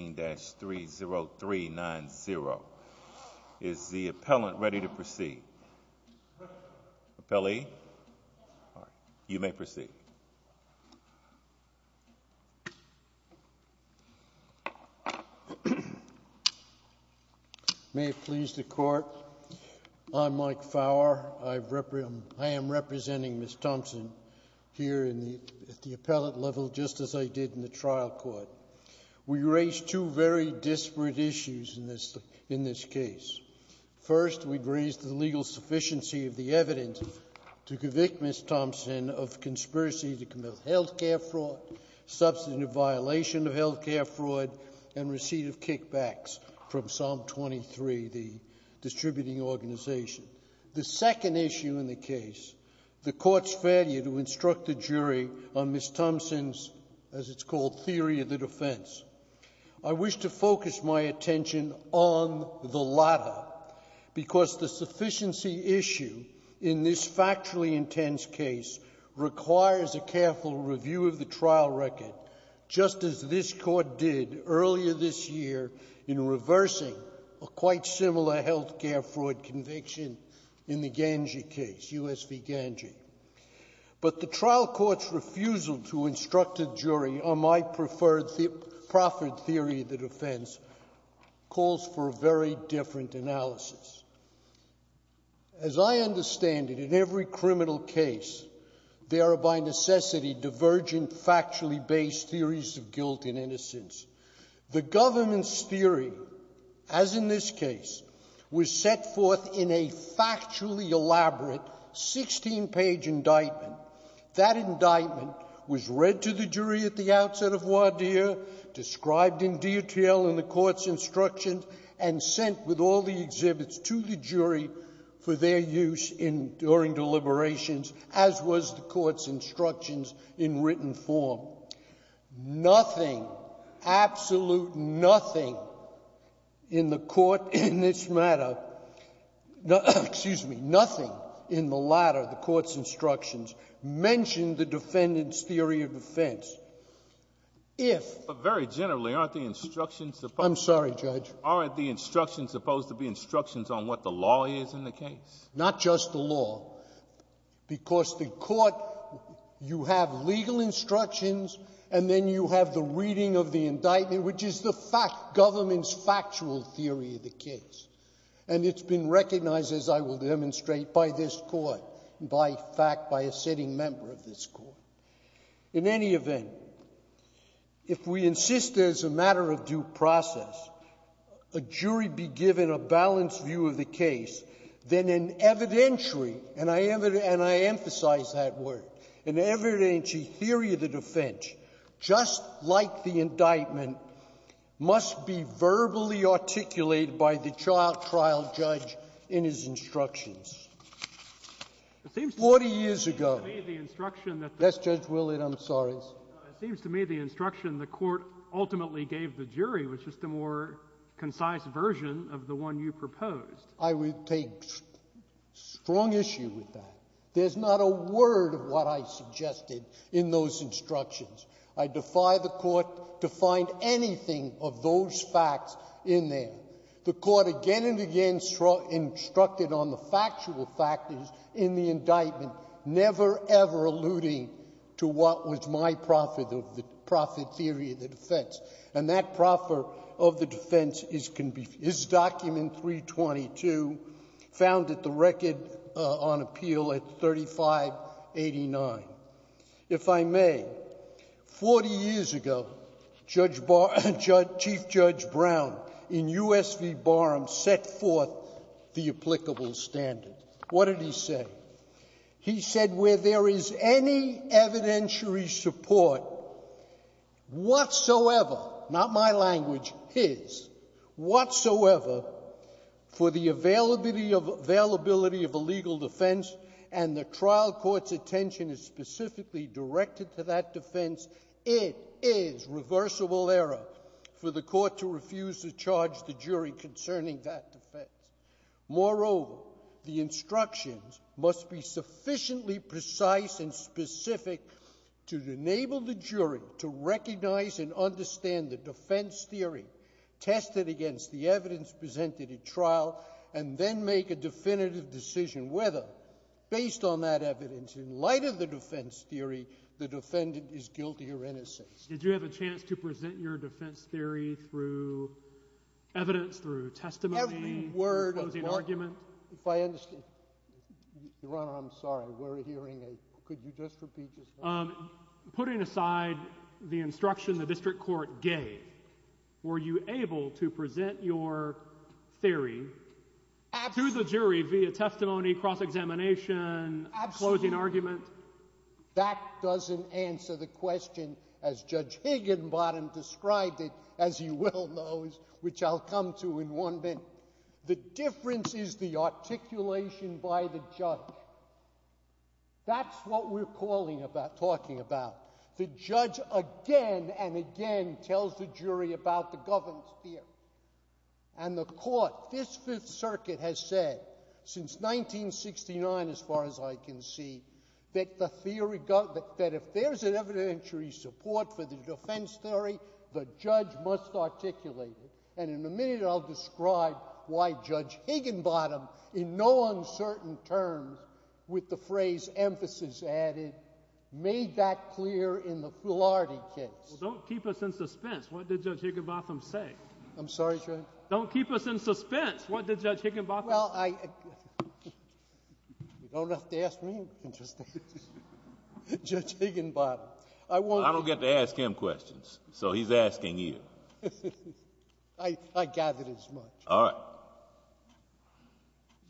13-30390. Is the appellant ready to proceed? Appellee? You may proceed. May it please the court. I'm Mike Fowler. I am representing Ms. Thompson here at the appellate level just as I did in the case. There are two very disparate issues in this case. First, we've raised the legal sufficiency of the evidence to convict Ms. Thompson of conspiracy to commit health care fraud, substantive violation of health care fraud, and receipt of kickbacks from Psalm 23, the distributing organization. The second issue in the case, the court's failure to instruct the jury on Ms. Thompson's, as I wish to focus my attention on the latter, because the sufficiency issue in this factually intense case requires a careful review of the trial record, just as this court did earlier this year in reversing a quite similar health care fraud conviction in the Ganji case, U.S. v. Ganji. But the trial court's refusal to instruct a jury on my preferred theory of the defense calls for a very different analysis. As I understand it, in every criminal case, there are by necessity divergent factually based theories of guilt and innocence. The government's theory, as in this case, was set forth in a factually elaborate 16-page indictment. That indictment was read to the jury at the outset of voir dire, described in detail in the court's instructions, and sent with all the exhibits to the jury for their use in, during deliberations, as was the court's instructions in written form. Nothing, absolute nothing, in the court in this matter, excuse me, nothing in the latter, the court's instructions, mentioned the defendant's theory of defense. If... But very generally, aren't the instructions... I'm sorry, Judge. Aren't the instructions supposed to be instructions on what the law is in the case? Not just the law, because the court, you have legal instructions, and then you have the reading of the indictment, which is the fact, government's factual theory of the case. And it's been recognized, as I will demonstrate, by this court, by fact, by a sitting member of this court. In any event, if we insist as a matter of due process, a jury be given a balanced view of the case, then an evidentiary and I emphasize that word, an evidentiary theory of the defense, just like the by the trial judge in his instructions. Forty years ago... It seems to me the instruction... Yes, Judge Willard, I'm sorry. It seems to me the instruction the court ultimately gave the jury was just a more concise version of the one you proposed. I would take strong issue with that. There's not a word of what I suggested in those The court again and again instructed on the factual factors in the indictment, never ever alluding to what was my profit of the profit theory of the defense. And that proffer of the defense is document 322, found at the record on appeal at 3589. If I may, 40 years ago, Chief Judge Brown in U.S. v. Barham set forth the applicable standard. What did he say? He said where there is any evidentiary support whatsoever, not my language, his, whatsoever, for the availability of a legal defense and the trial court's attention is specifically directed to that defense, it is reversible error for the court to refuse to charge the jury concerning that defense. Moreover, the instructions must be sufficiently precise and specific to enable the jury to recognize and understand the defense theory tested against the evidence presented at trial and then make a definitive decision whether, based on that evidence, in light of the defense theory, the defendant is to present your defense theory through evidence, through testimony, through a closing argument. If I understand, Your Honor, I'm sorry, we're hearing a, could you just repeat yourself? Putting aside the instruction the district court gave, were you able to present your theory to the jury via testimony, cross-examination, closing argument? That doesn't answer the question as Judge Higginbottom described it, as he well knows, which I'll come to in one minute. The difference is the articulation by the judge. That's what we're calling about, talking about. The judge again and again tells the jury about the governance theory and the court, this Fifth Circuit has said since 1969, as far as I can see, that the theory, that if there's an evidentiary support for the defense theory, the judge must articulate it. And in a minute, I'll describe why Judge Higginbottom, in no uncertain terms, with the phrase emphasis added, made that clear in the Fulardi case. Well, don't keep us in suspense. What did Judge Higginbottom say? I'm sorry? Don't keep us in suspense. What did Judge Higginbottom say? Well, I... You don't have to ask me. You can just ask Judge Higginbottom. I won't... I don't get to ask him questions, so he's asking you. I got it as much. All right.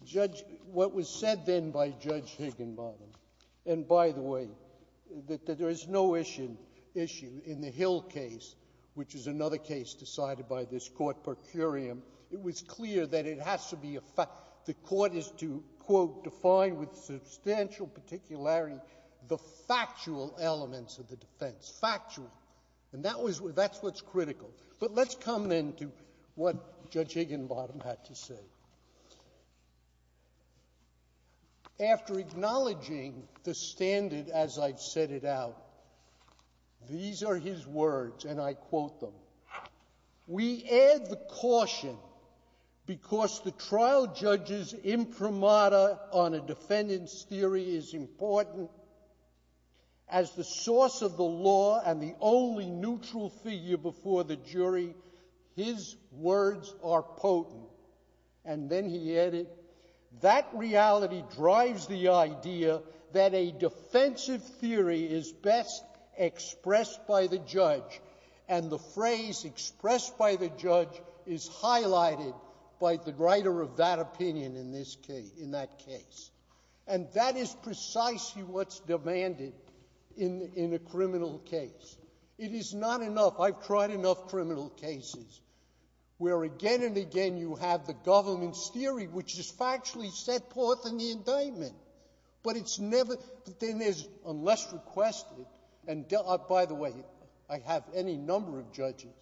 Judge... What was said then by Judge Higginbottom, and by the way, that there is no issue in the Hill case, which is another case decided by this Court per curiam, it was clear that it has to be a fact. The Court is to, quote, define with substantial particularity the factual elements of the defense. Factual. And that was... that's what's critical. But let's come then to what Judge Higginbottom had to say. After acknowledging the standard as I've set it out, these are his words, and I quote them. We add the caution because the trial judge's imprimatur on a defendant's theory is important. As the source of the law and the only neutral figure before the jury, his words are potent. And then he added, that reality drives the idea that a defensive theory is best expressed by the judge, and the phrase expressed by the judge is highlighted by the writer of that opinion in this case... in that case. And that is precisely what's demanded in a criminal case. It is not enough. I've tried enough criminal cases where again and again you have the government's theory, which is factually set forth in the indictment. But it's never... but then there's... unless requested, and by the way, I have any number of judges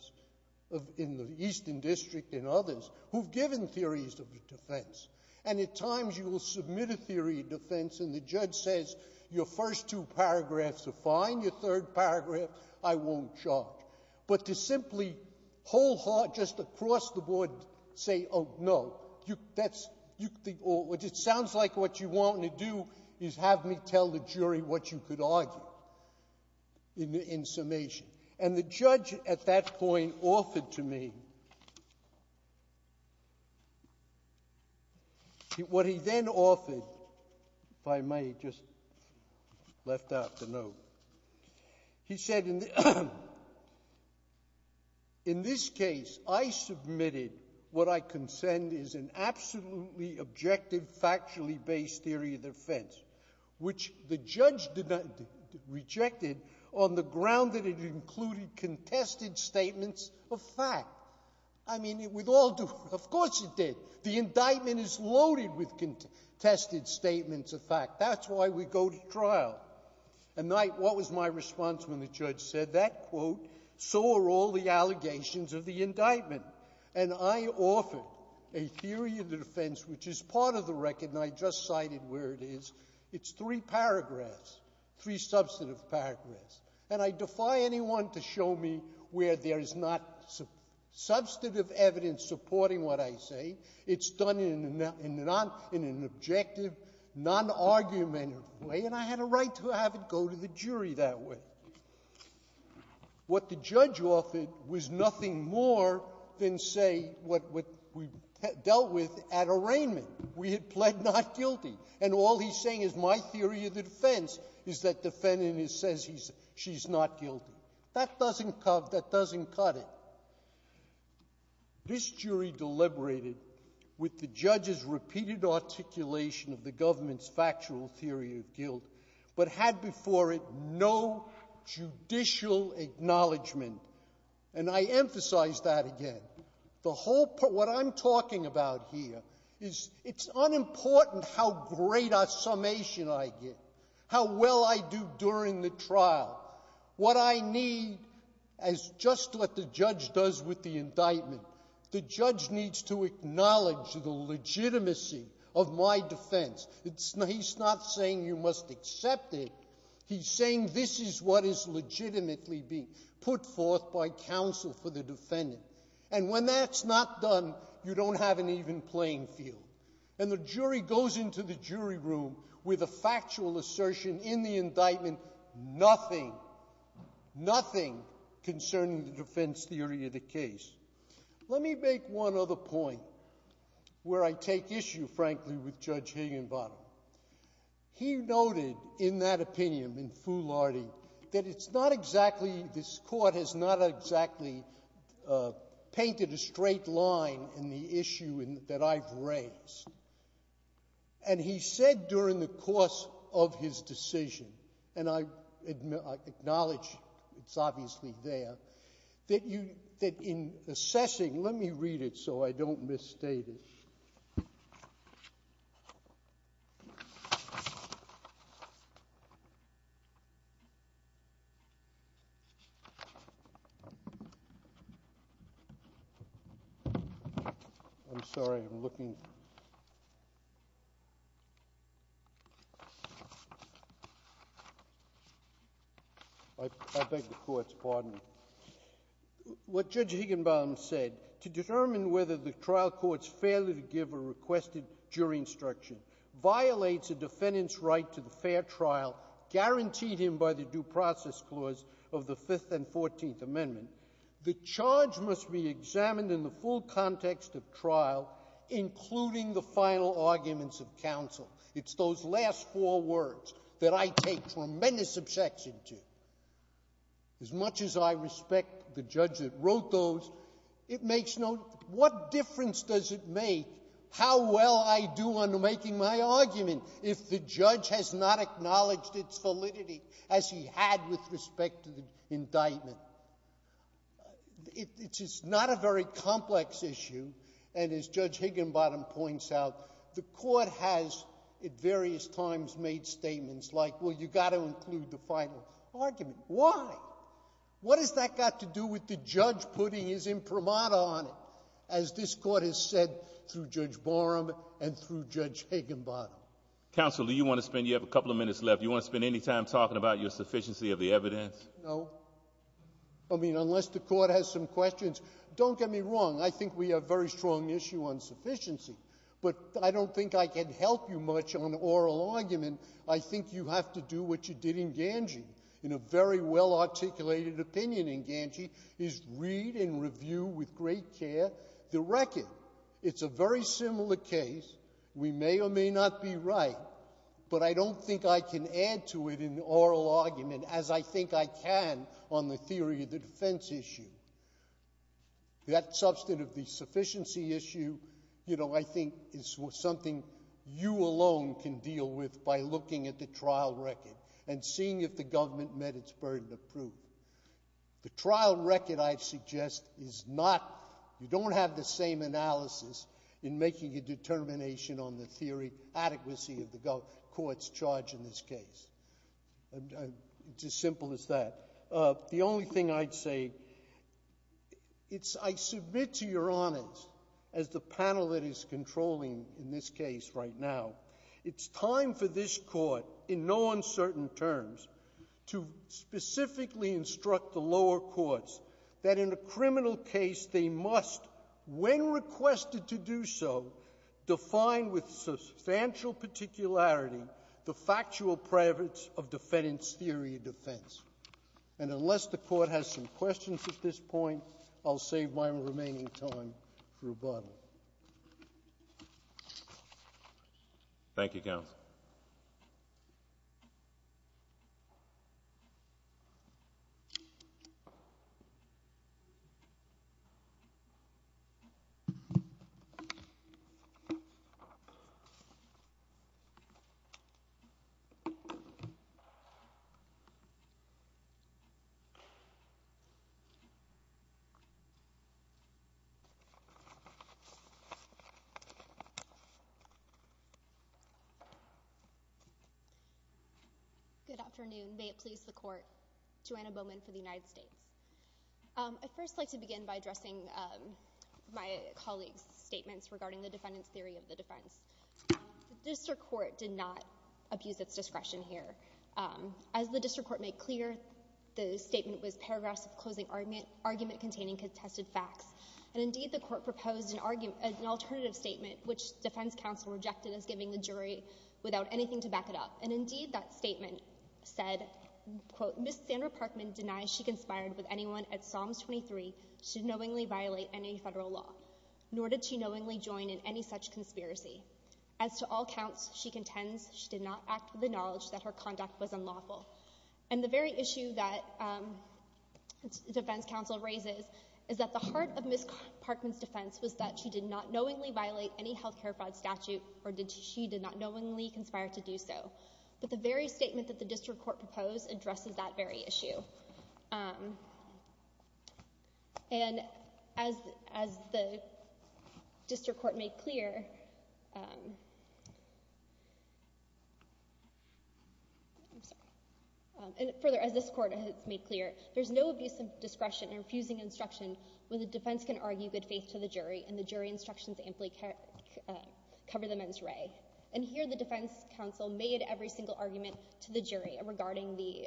in the Eastern District and others who've given theories of defense. And at times you will submit a theory of defense and the judge says, your first two paragraphs are fine, your third paragraph I won't charge. But to simply wholeheartedly, just across the board, say, oh, no, you... that's... you... it sounds like what you want to do is have me tell the jury what you could argue, in summation. And the judge at that point offered to me... what he then offered, if I may just... left out the note. He said, in the... in this case, I submitted what I consent is an absolutely objective, factually based theory of defense, which the judge rejected on the ground that it included contested statements of fact. I mean, it would all do... of course it did. The indictment is loaded with contested statements of fact. That's why we go to trial. And I... what was my response when the judge said that, quote, so are all the allegations of the indictment. And I offered a theory of defense which is part of the record and I just cited where it is. It's three paragraphs, three substantive paragraphs. And I defy anyone to show me where there is not substantive evidence supporting what I say. It's done in a non-objective, non-argumentative way. And I had a right to have it go to the jury that way. What the judge offered was nothing more than, say, what we dealt with at arraignment. We had pled not guilty. And all he's saying is my theory of defense is that defendant says she's not guilty. That doesn't cut it. This jury deliberated with the judge's repeated articulation of the government's factual theory of guilt, but had before it no judicial acknowledgment. And I emphasize that again. The whole... what I'm talking about here is it's unimportant how great a as just what the judge does with the indictment. The judge needs to acknowledge the legitimacy of my defense. It's... he's not saying you must accept it. He's saying this is what is legitimately being put forth by counsel for the defendant. And when that's not done, you don't have an even playing field. And the jury goes into the jury room with a factual assertion in the indictment, nothing, nothing concerning the defense theory of the case. Let me make one other point where I take issue, frankly, with Judge Higginbottom. He noted in that opinion, in foolhardy, that it's not exactly... this court has not exactly painted a straight line in the issue that I've raised. And he said during the course of his decision, and I acknowledge it's obviously there, that in assessing... let me read it so I don't I beg the court's pardon. What Judge Higginbottom said, to determine whether the trial court's failure to give a requested jury instruction violates a defendant's right to the fair trial guaranteed him by the due process clause of the Fifth and Fourteenth Amendment, the charge must be examined in the full context of trial, including the final arguments of counsel. It's those last four words that I take tremendous objection to. As much as I respect the judge that wrote those, it makes no... what difference does it make how well I do on making my argument if the judge has not acknowledged its validity as he had with respect to the indictment? It's not a very complex issue, and as Judge Higginbottom points out, the court has, at various times, made statements like, well, you've got to include the final argument. Why? What has that got to do with the judge putting his imprimatur on it, as this court has said through Judge Barham and through Judge Higginbottom? Counsel, do you want to spend... you have a couple of minutes left. Do you want to spend any time talking about your sufficiency of the evidence? No. I mean, unless the court has some questions. Don't get me wrong. I think we have a very strong issue on sufficiency, but I don't think I can help you much on oral argument. I think you have to do what you did in Ganji, in a very well-articulated opinion in Ganji, is read and but I don't think I can add to it in oral argument as I think I can on the theory of the defense issue. That substantive sufficiency issue, you know, I think is something you alone can deal with by looking at the trial record and seeing if the government met its burden of proof. The trial record, I suggest, is not... you don't have the same analysis in making a court's charge in this case. It's as simple as that. The only thing I'd say, it's... I submit to your honors, as the panel that is controlling in this case right now, it's time for this court, in no uncertain terms, to specifically instruct the lower courts that in a criminal case they must, when requested to do so, define with substantial particularity the factual preface of defendant's theory of defense. And unless the court has some questions at this point, I'll save my remaining time for rebuttal. Thank you, counsel. Good afternoon. May it please the court. Joanna Bowman for the United States. I'd first like to begin by addressing my colleague's statements regarding the defendant's theory of the defense. The district court did not abuse its discretion here. As the district court made clear, the statement was paragraphs of closing argument containing contested facts. And indeed, the court proposed an alternative statement, which defense counsel rejected as giving the jury without anything to back it up. And indeed, that statement said, Ms. Sandra Parkman denies she conspired with anyone at Psalms 23 to knowingly violate any federal law, nor did she knowingly join in any such conspiracy. As to all counts, she contends she did not act with the knowledge that her conduct was unlawful. And the very issue that defense counsel raises is that the heart of Ms. Parkman's defense was that she did not knowingly violate any health care fraud statute, or she did not knowingly conspire to do so. But the very statement that the district court proposed addresses that very issue. And as the district court made clear, further, as this court has made clear, there's no abuse of discretion or refusing instruction when the defense can argue good faith to the jury and the jury instructions amply cover the men's ray. And here, the defense counsel made every single argument to the jury regarding the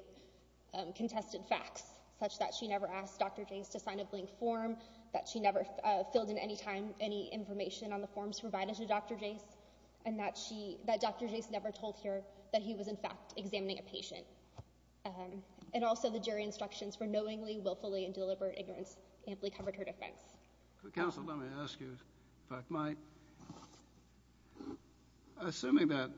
contested facts, such that she never asked Dr. Jase to sign a blank form, that she never filled in any time any information on the forms provided to Dr. Jase, and that Dr. Jase never told her that he was, in fact, examining a patient. And also, the jury instructions for knowingly, willfully, and deliberate ignorance amply covered her defense. Counsel, let me ask you, if I might, assuming that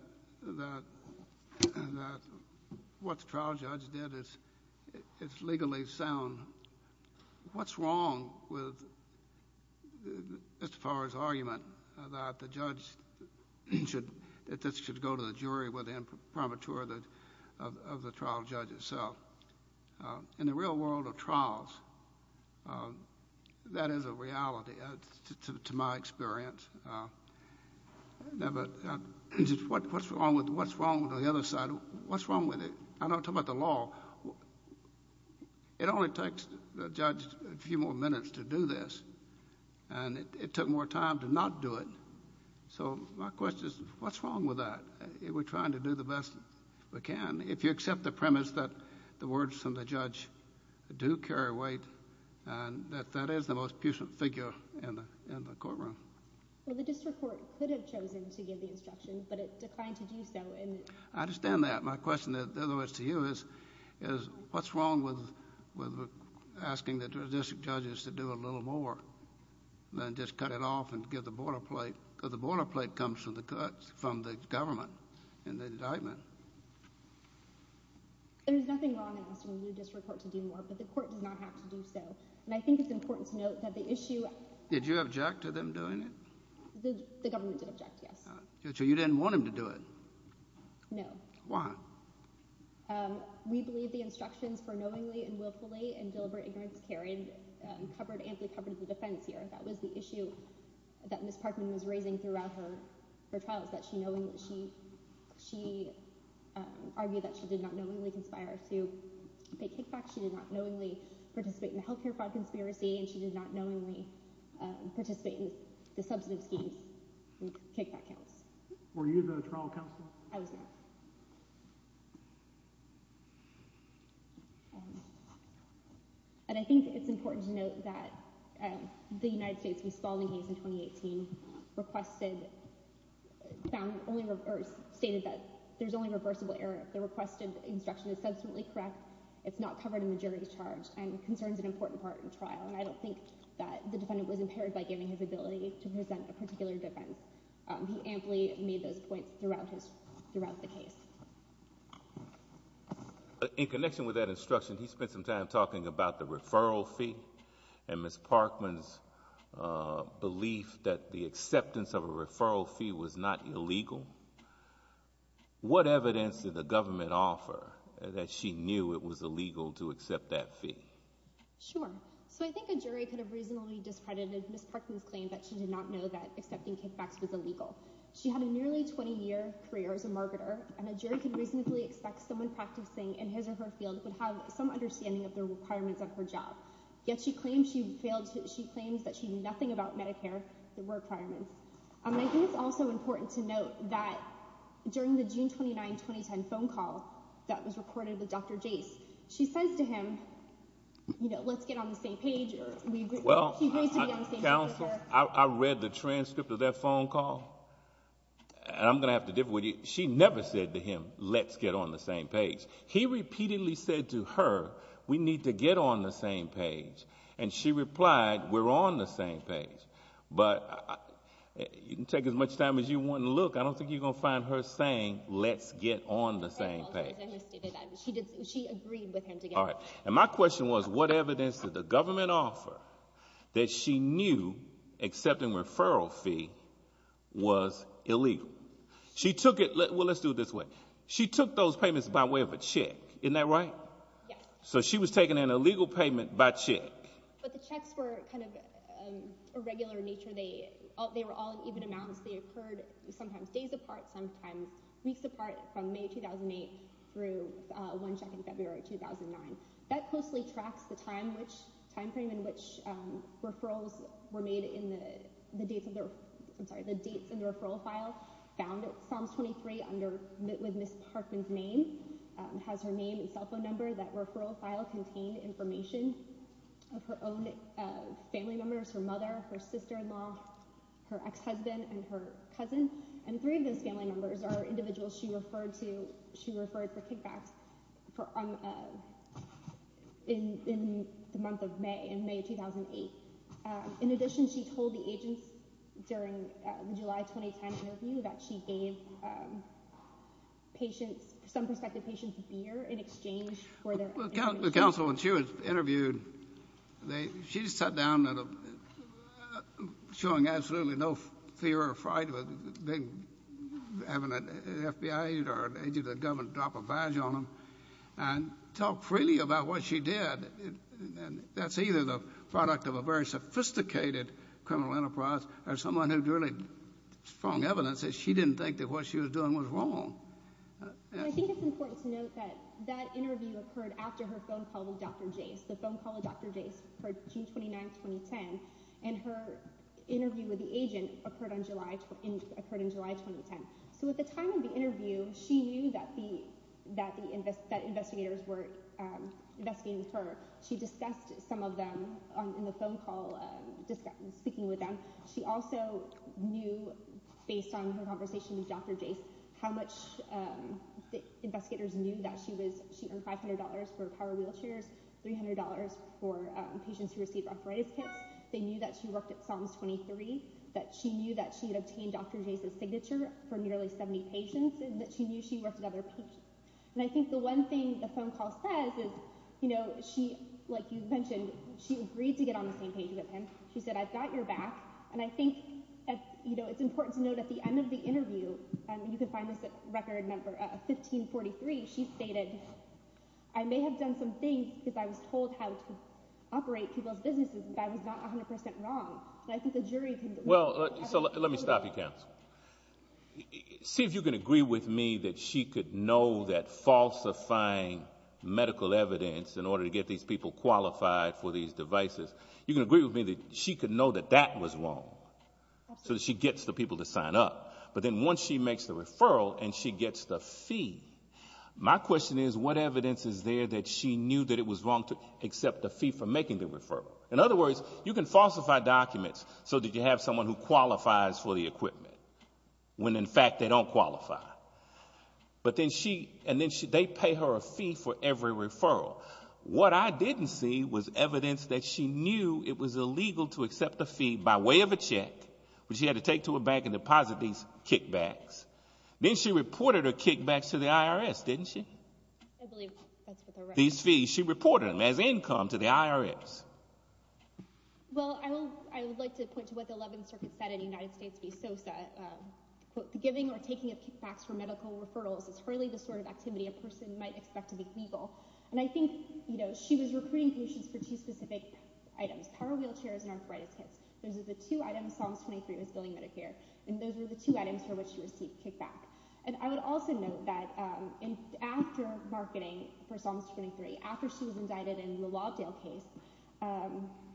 what the trial judge did is legally sound, what's wrong with Mr. Fowler's argument that the judge should go to the jury with the imprimatur of the trial judge itself? In the real world of trials, that is a reality, to my experience. What's wrong with the other side? What's wrong with it? I'm not talking about the law. It only takes the judge a few more minutes to do this, and it took more time to not do it. So my question is, what's wrong with that? We're trying to do the best we can. If you accept the words from the judge, do carry weight, and that that is the most pusant figure in the courtroom. Well, the district court could have chosen to give the instruction, but it declined to do so. I understand that. My question to you is, what's wrong with asking the district judges to do a little more than just cut it off and give the border plate, because the border plate comes from the government and the indictment. There's nothing wrong in asking the new district court to do more, but the court does not have to do so. And I think it's important to note that the issue... Did you object to them doing it? The government did object, yes. So you didn't want him to do it? No. Why? We believe the instructions for knowingly and willfully and deliberate ignorance carried amply covered the defense here. That was the issue that Ms. Parkman was raising throughout her trials, that she argued that she did not knowingly conspire to pay kickback. She did not knowingly participate in the health care fraud conspiracy, and she did not knowingly participate in the substantive schemes and kickback counts. Were you the trial counsel? I was not. And I think it's important to note that the United States, when stalling these in 2018, requested... Found only reverse... Stated that there's only reversible error. The requested instruction is subsequently correct. It's not covered in the jury's charge, and concerns an important part in trial. And I don't think that the defendant was impaired by giving his ability to present a particular defense. He amply made those points throughout the case. In connection with that instruction, he spent some time talking about the referral fee and Ms. Parkman's belief that the acceptance of a referral fee was not illegal. What evidence did the government offer that she knew it was illegal to accept that fee? Sure. So I think a jury could have reasonably discredited Ms. Parkman's claim that she did not know that accepting kickbacks was illegal. She had a nearly 20-year career as a marketer, and a jury could reasonably expect someone practicing in his or her field would have some understanding of the requirements of her job. Yet she claims that she knew nothing about Medicare requirements. And I think it's also important to note that during the June 29, 2010 phone call that was recorded with Dr. Jase, she says to him, you know, let's get on the same page, or we... Well, counsel, I read the transcript of that phone call, and I'm going to have to She never said to him, let's get on the same page. He repeatedly said to her, we need to get on the same page. And she replied, we're on the same page. But you can take as much time as you want to look. I don't think you're going to find her saying, let's get on the same page. She agreed with him to get on the same page. And my question was, what evidence did the government offer that she knew accepting referral fee was illegal? She took it... Well, let's do it this way. She took those payments by way of a check. Isn't that right? Yes. So she was taking an illegal payment by check. But the checks were kind of irregular in nature. They were all in even amounts. They occurred sometimes days apart, sometimes weeks apart from May 2008 through one check in February 2009. That closely tracks the dates in the referral file found at Psalms 23 with Ms. Parkman's name. It has her name and cell phone number. That referral file contained information of her own family members, her mother, her sister-in-law, her ex-husband, and her cousin. And three of those family members are individuals she referred for kickbacks in the month of May, in May 2008. In addition, she told the agents during the July 2010 interview that she gave some prospective patients beer in exchange for their information. Well, counsel, when she was interviewed, she sat down showing absolutely no fear or fright of having an FBI agent or an agent of the government drop a badge on them and talk freely about what she did. And that's either the product of a very criminal enterprise or someone who drew strong evidence that she didn't think that what she was doing was wrong. I think it's important to note that that interview occurred after her phone call with Dr. Jase. The phone call with Dr. Jase occurred June 29, 2010, and her interview with the agent occurred in July 2010. So at the time of the interview, she knew that investigators were speaking with them. She also knew, based on her conversation with Dr. Jase, how much investigators knew that she earned $500 for power wheelchairs, $300 for patients who received arthritis kits. They knew that she worked at Psalms 23, that she knew that she had obtained Dr. Jase's signature for nearly 70 patients, and that she knew she worked with other patients. And I think the one thing the phone call says is, you know, she, like you mentioned, she agreed to and I think, you know, it's important to note at the end of the interview, and you can find this at record number 1543, she stated, I may have done some things because I was told how to operate people's businesses, but I was not 100% wrong. And I think the jury can Well, so let me stop you, counsel. See if you can agree with me that she could know that falsifying medical evidence in order to get these people qualified for these devices. You can agree with me that she could know that that was wrong. So she gets the people to sign up. But then once she makes the referral, and she gets the fee, my question is, what evidence is there that she knew that it was wrong to accept the fee for making the referral? In other words, you can falsify documents, so that you have someone who qualifies for the equipment, when in fact, they don't qualify. But then she and then they pay her a fee for every referral. What I didn't see was evidence that she knew it was illegal to accept the fee by way of a check, which he had to take to a bank and deposit these kickbacks. Then she reported her kickbacks to the IRS, didn't she? These fees she reported as income to the IRS. Well, I will, I would like to point to what the 11th Circuit said in the United States be so sad, giving or taking a kickbacks for medical referrals is really the sort of activity a person might expect to be legal. And I think, you know, she was recruiting patients for two specific items, power wheelchairs and arthritis kits. Those are the two items Psalms 23 was billing Medicare, and those were the two items for which she received kickback. And I would also note that after marketing for Psalms 23, after she was indicted in the Lobdale case,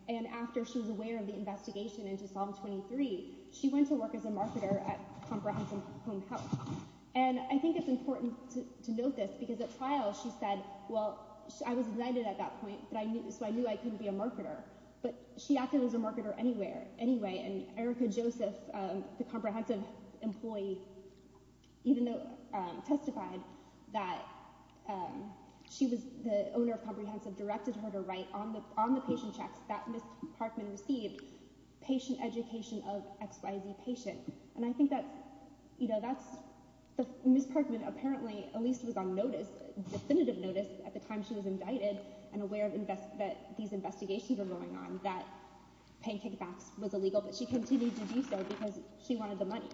and after she was aware of the investigation into Psalm 23, she went to work as a marketer at Comprehensive Home and I think it's important to note this because at trial she said, well, I was indicted at that point, but I knew, so I knew I couldn't be a marketer, but she acted as a marketer anywhere anyway. And Erica Joseph, the Comprehensive employee, even though testified that she was the owner of Comprehensive, directed her to write on the, on the patient checks that Parkman received, patient education of XYZ patient. And I think that's, you know, that's Ms. Parkman apparently at least was on notice, definitive notice at the time she was indicted and aware of invest, that these investigations were going on, that paying kickbacks was illegal, but she continued to do so because she wanted the money.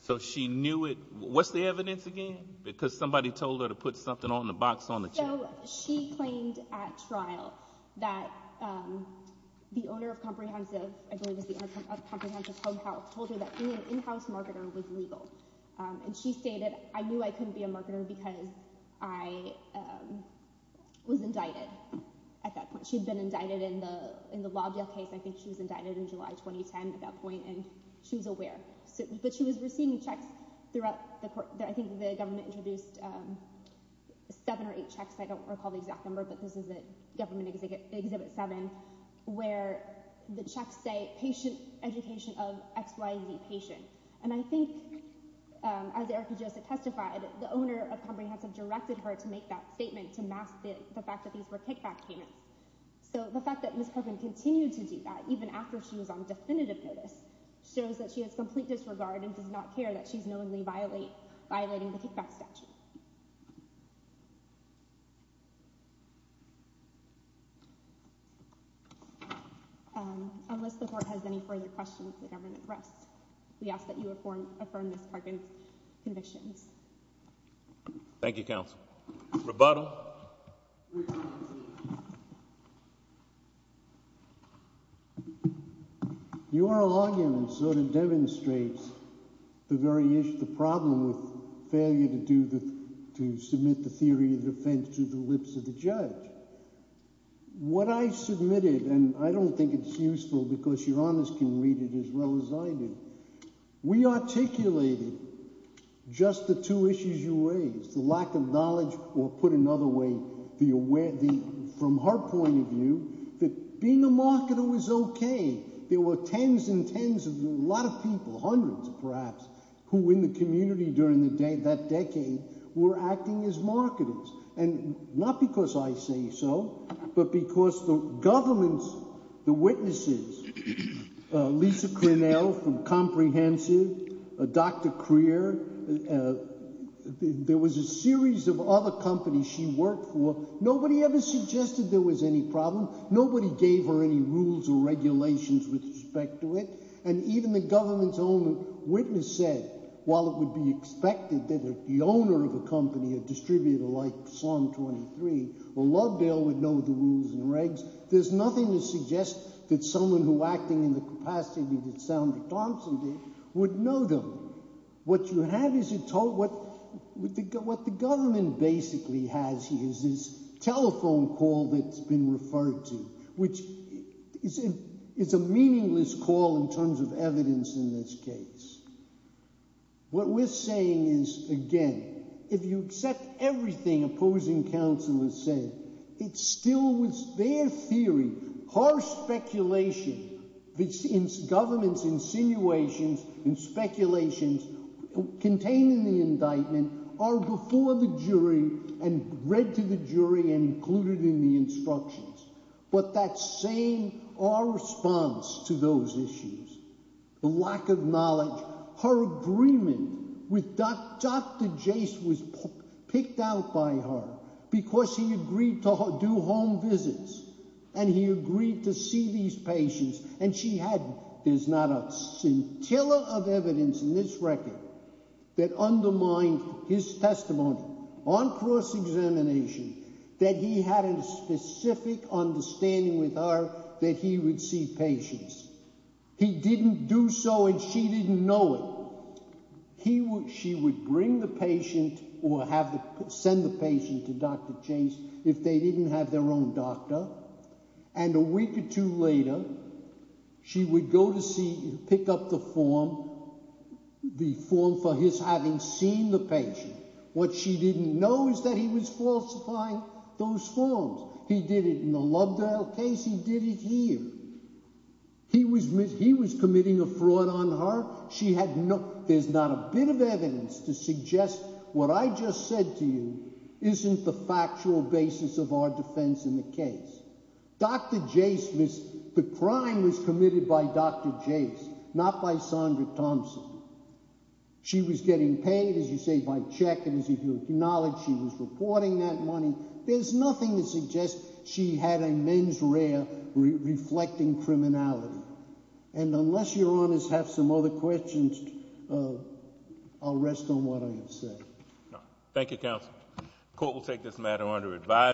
So she knew it. What's the evidence again? Because somebody told her to put something on the box on the chair. So she claimed at trial that the owner of Comprehensive, I believe it was the owner of Comprehensive Home Health, told her that being an in-house marketer was legal. And she stated, I knew I couldn't be a marketer because I was indicted at that point. She'd been indicted in the, in the Lobdell case. I think she was indicted in July, 2010 at that point. And she was aware, but she was receiving checks throughout the court that I think the seven or eight checks, I don't recall the exact number, but this is a government exhibit, exhibit seven, where the checks say patient education of XYZ patient. And I think, as Erica Joseph testified, the owner of Comprehensive directed her to make that statement to mask the fact that these were kickback payments. So the fact that Ms. Parkman continued to do that, even after she was on definitive notice, shows that she has complete disregard and does not care that she's knowingly violate, violating the kickback statute. Um, unless the court has any further questions, the government rests. We ask that you affirm, affirm Ms. Parkman's convictions. Thank you, counsel. Rebuttal. Your argument sort of demonstrates the very issue, the problem with failure to do the, to submit the theory of defense to the lips of the judge. What I submitted, and I don't think it's useful because your honors can read it as well as I do. We articulated just the two issues you raised, the lack of knowledge, or put another way, the aware, the, from her point of view, that being a marketer was okay. There were tens and tens of a lot of people, hundreds perhaps, who in the community during the day, that decade, were acting as marketers. And not because I say so, but because the governments, the witnesses, Lisa Crinnell from Comprehensive, Dr. Crear, there was a series of other companies she worked for. Nobody ever suggested there was any problem. Nobody gave her any rules or regulations with respect to it. And even the government's own witness said, while it would be expected that the owner of a company, a distributor like Psalm 23, or Lovedale would know the rules and regs, there's nothing to suggest that someone who acting in the capacity that Sandra Thompson did would know them. What you have is a total, what the government basically has here is this call that's been referred to, which is a meaningless call in terms of evidence in this case. What we're saying is, again, if you accept everything opposing counselors say, it still was their theory, harsh speculation, governments insinuations and speculations contained in the indictment are before the jury and read to the jury and included in the instructions. But that same, our response to those issues, the lack of knowledge, her agreement with Dr. Jase was picked out by her because he agreed to do home visits. And he agreed to see these patients. And she had, there's not a scintilla of evidence in this record that undermined his testimony on cross-examination, that he had a specific understanding with her that he would see patients. He didn't do so, and she didn't know it. She would bring the patient or send the patient to Dr. Jase if they didn't have their own doctor. And a week or two later, she would go to see, pick up the form, the form for his having seen the patient. What she didn't know is that he was falsifying those forms. He did it in the Lubdell case. He did it here. He was, he was committing a fraud on her. She had no, there's not a bit of evidence to suggest what I just said to you isn't the factual basis of our defense in the case. Dr. Jase was, the crime was committed by Dr. Jase, not by Sondra Thompson. She was getting paid, as you say, by check. And as you acknowledge, she was reporting that money. There's nothing to suggest she had a mens rea reflecting criminality. And unless your honors have some other questions, I'll rest on what I have said. Thank you, counsel. Court will take this matter under advise.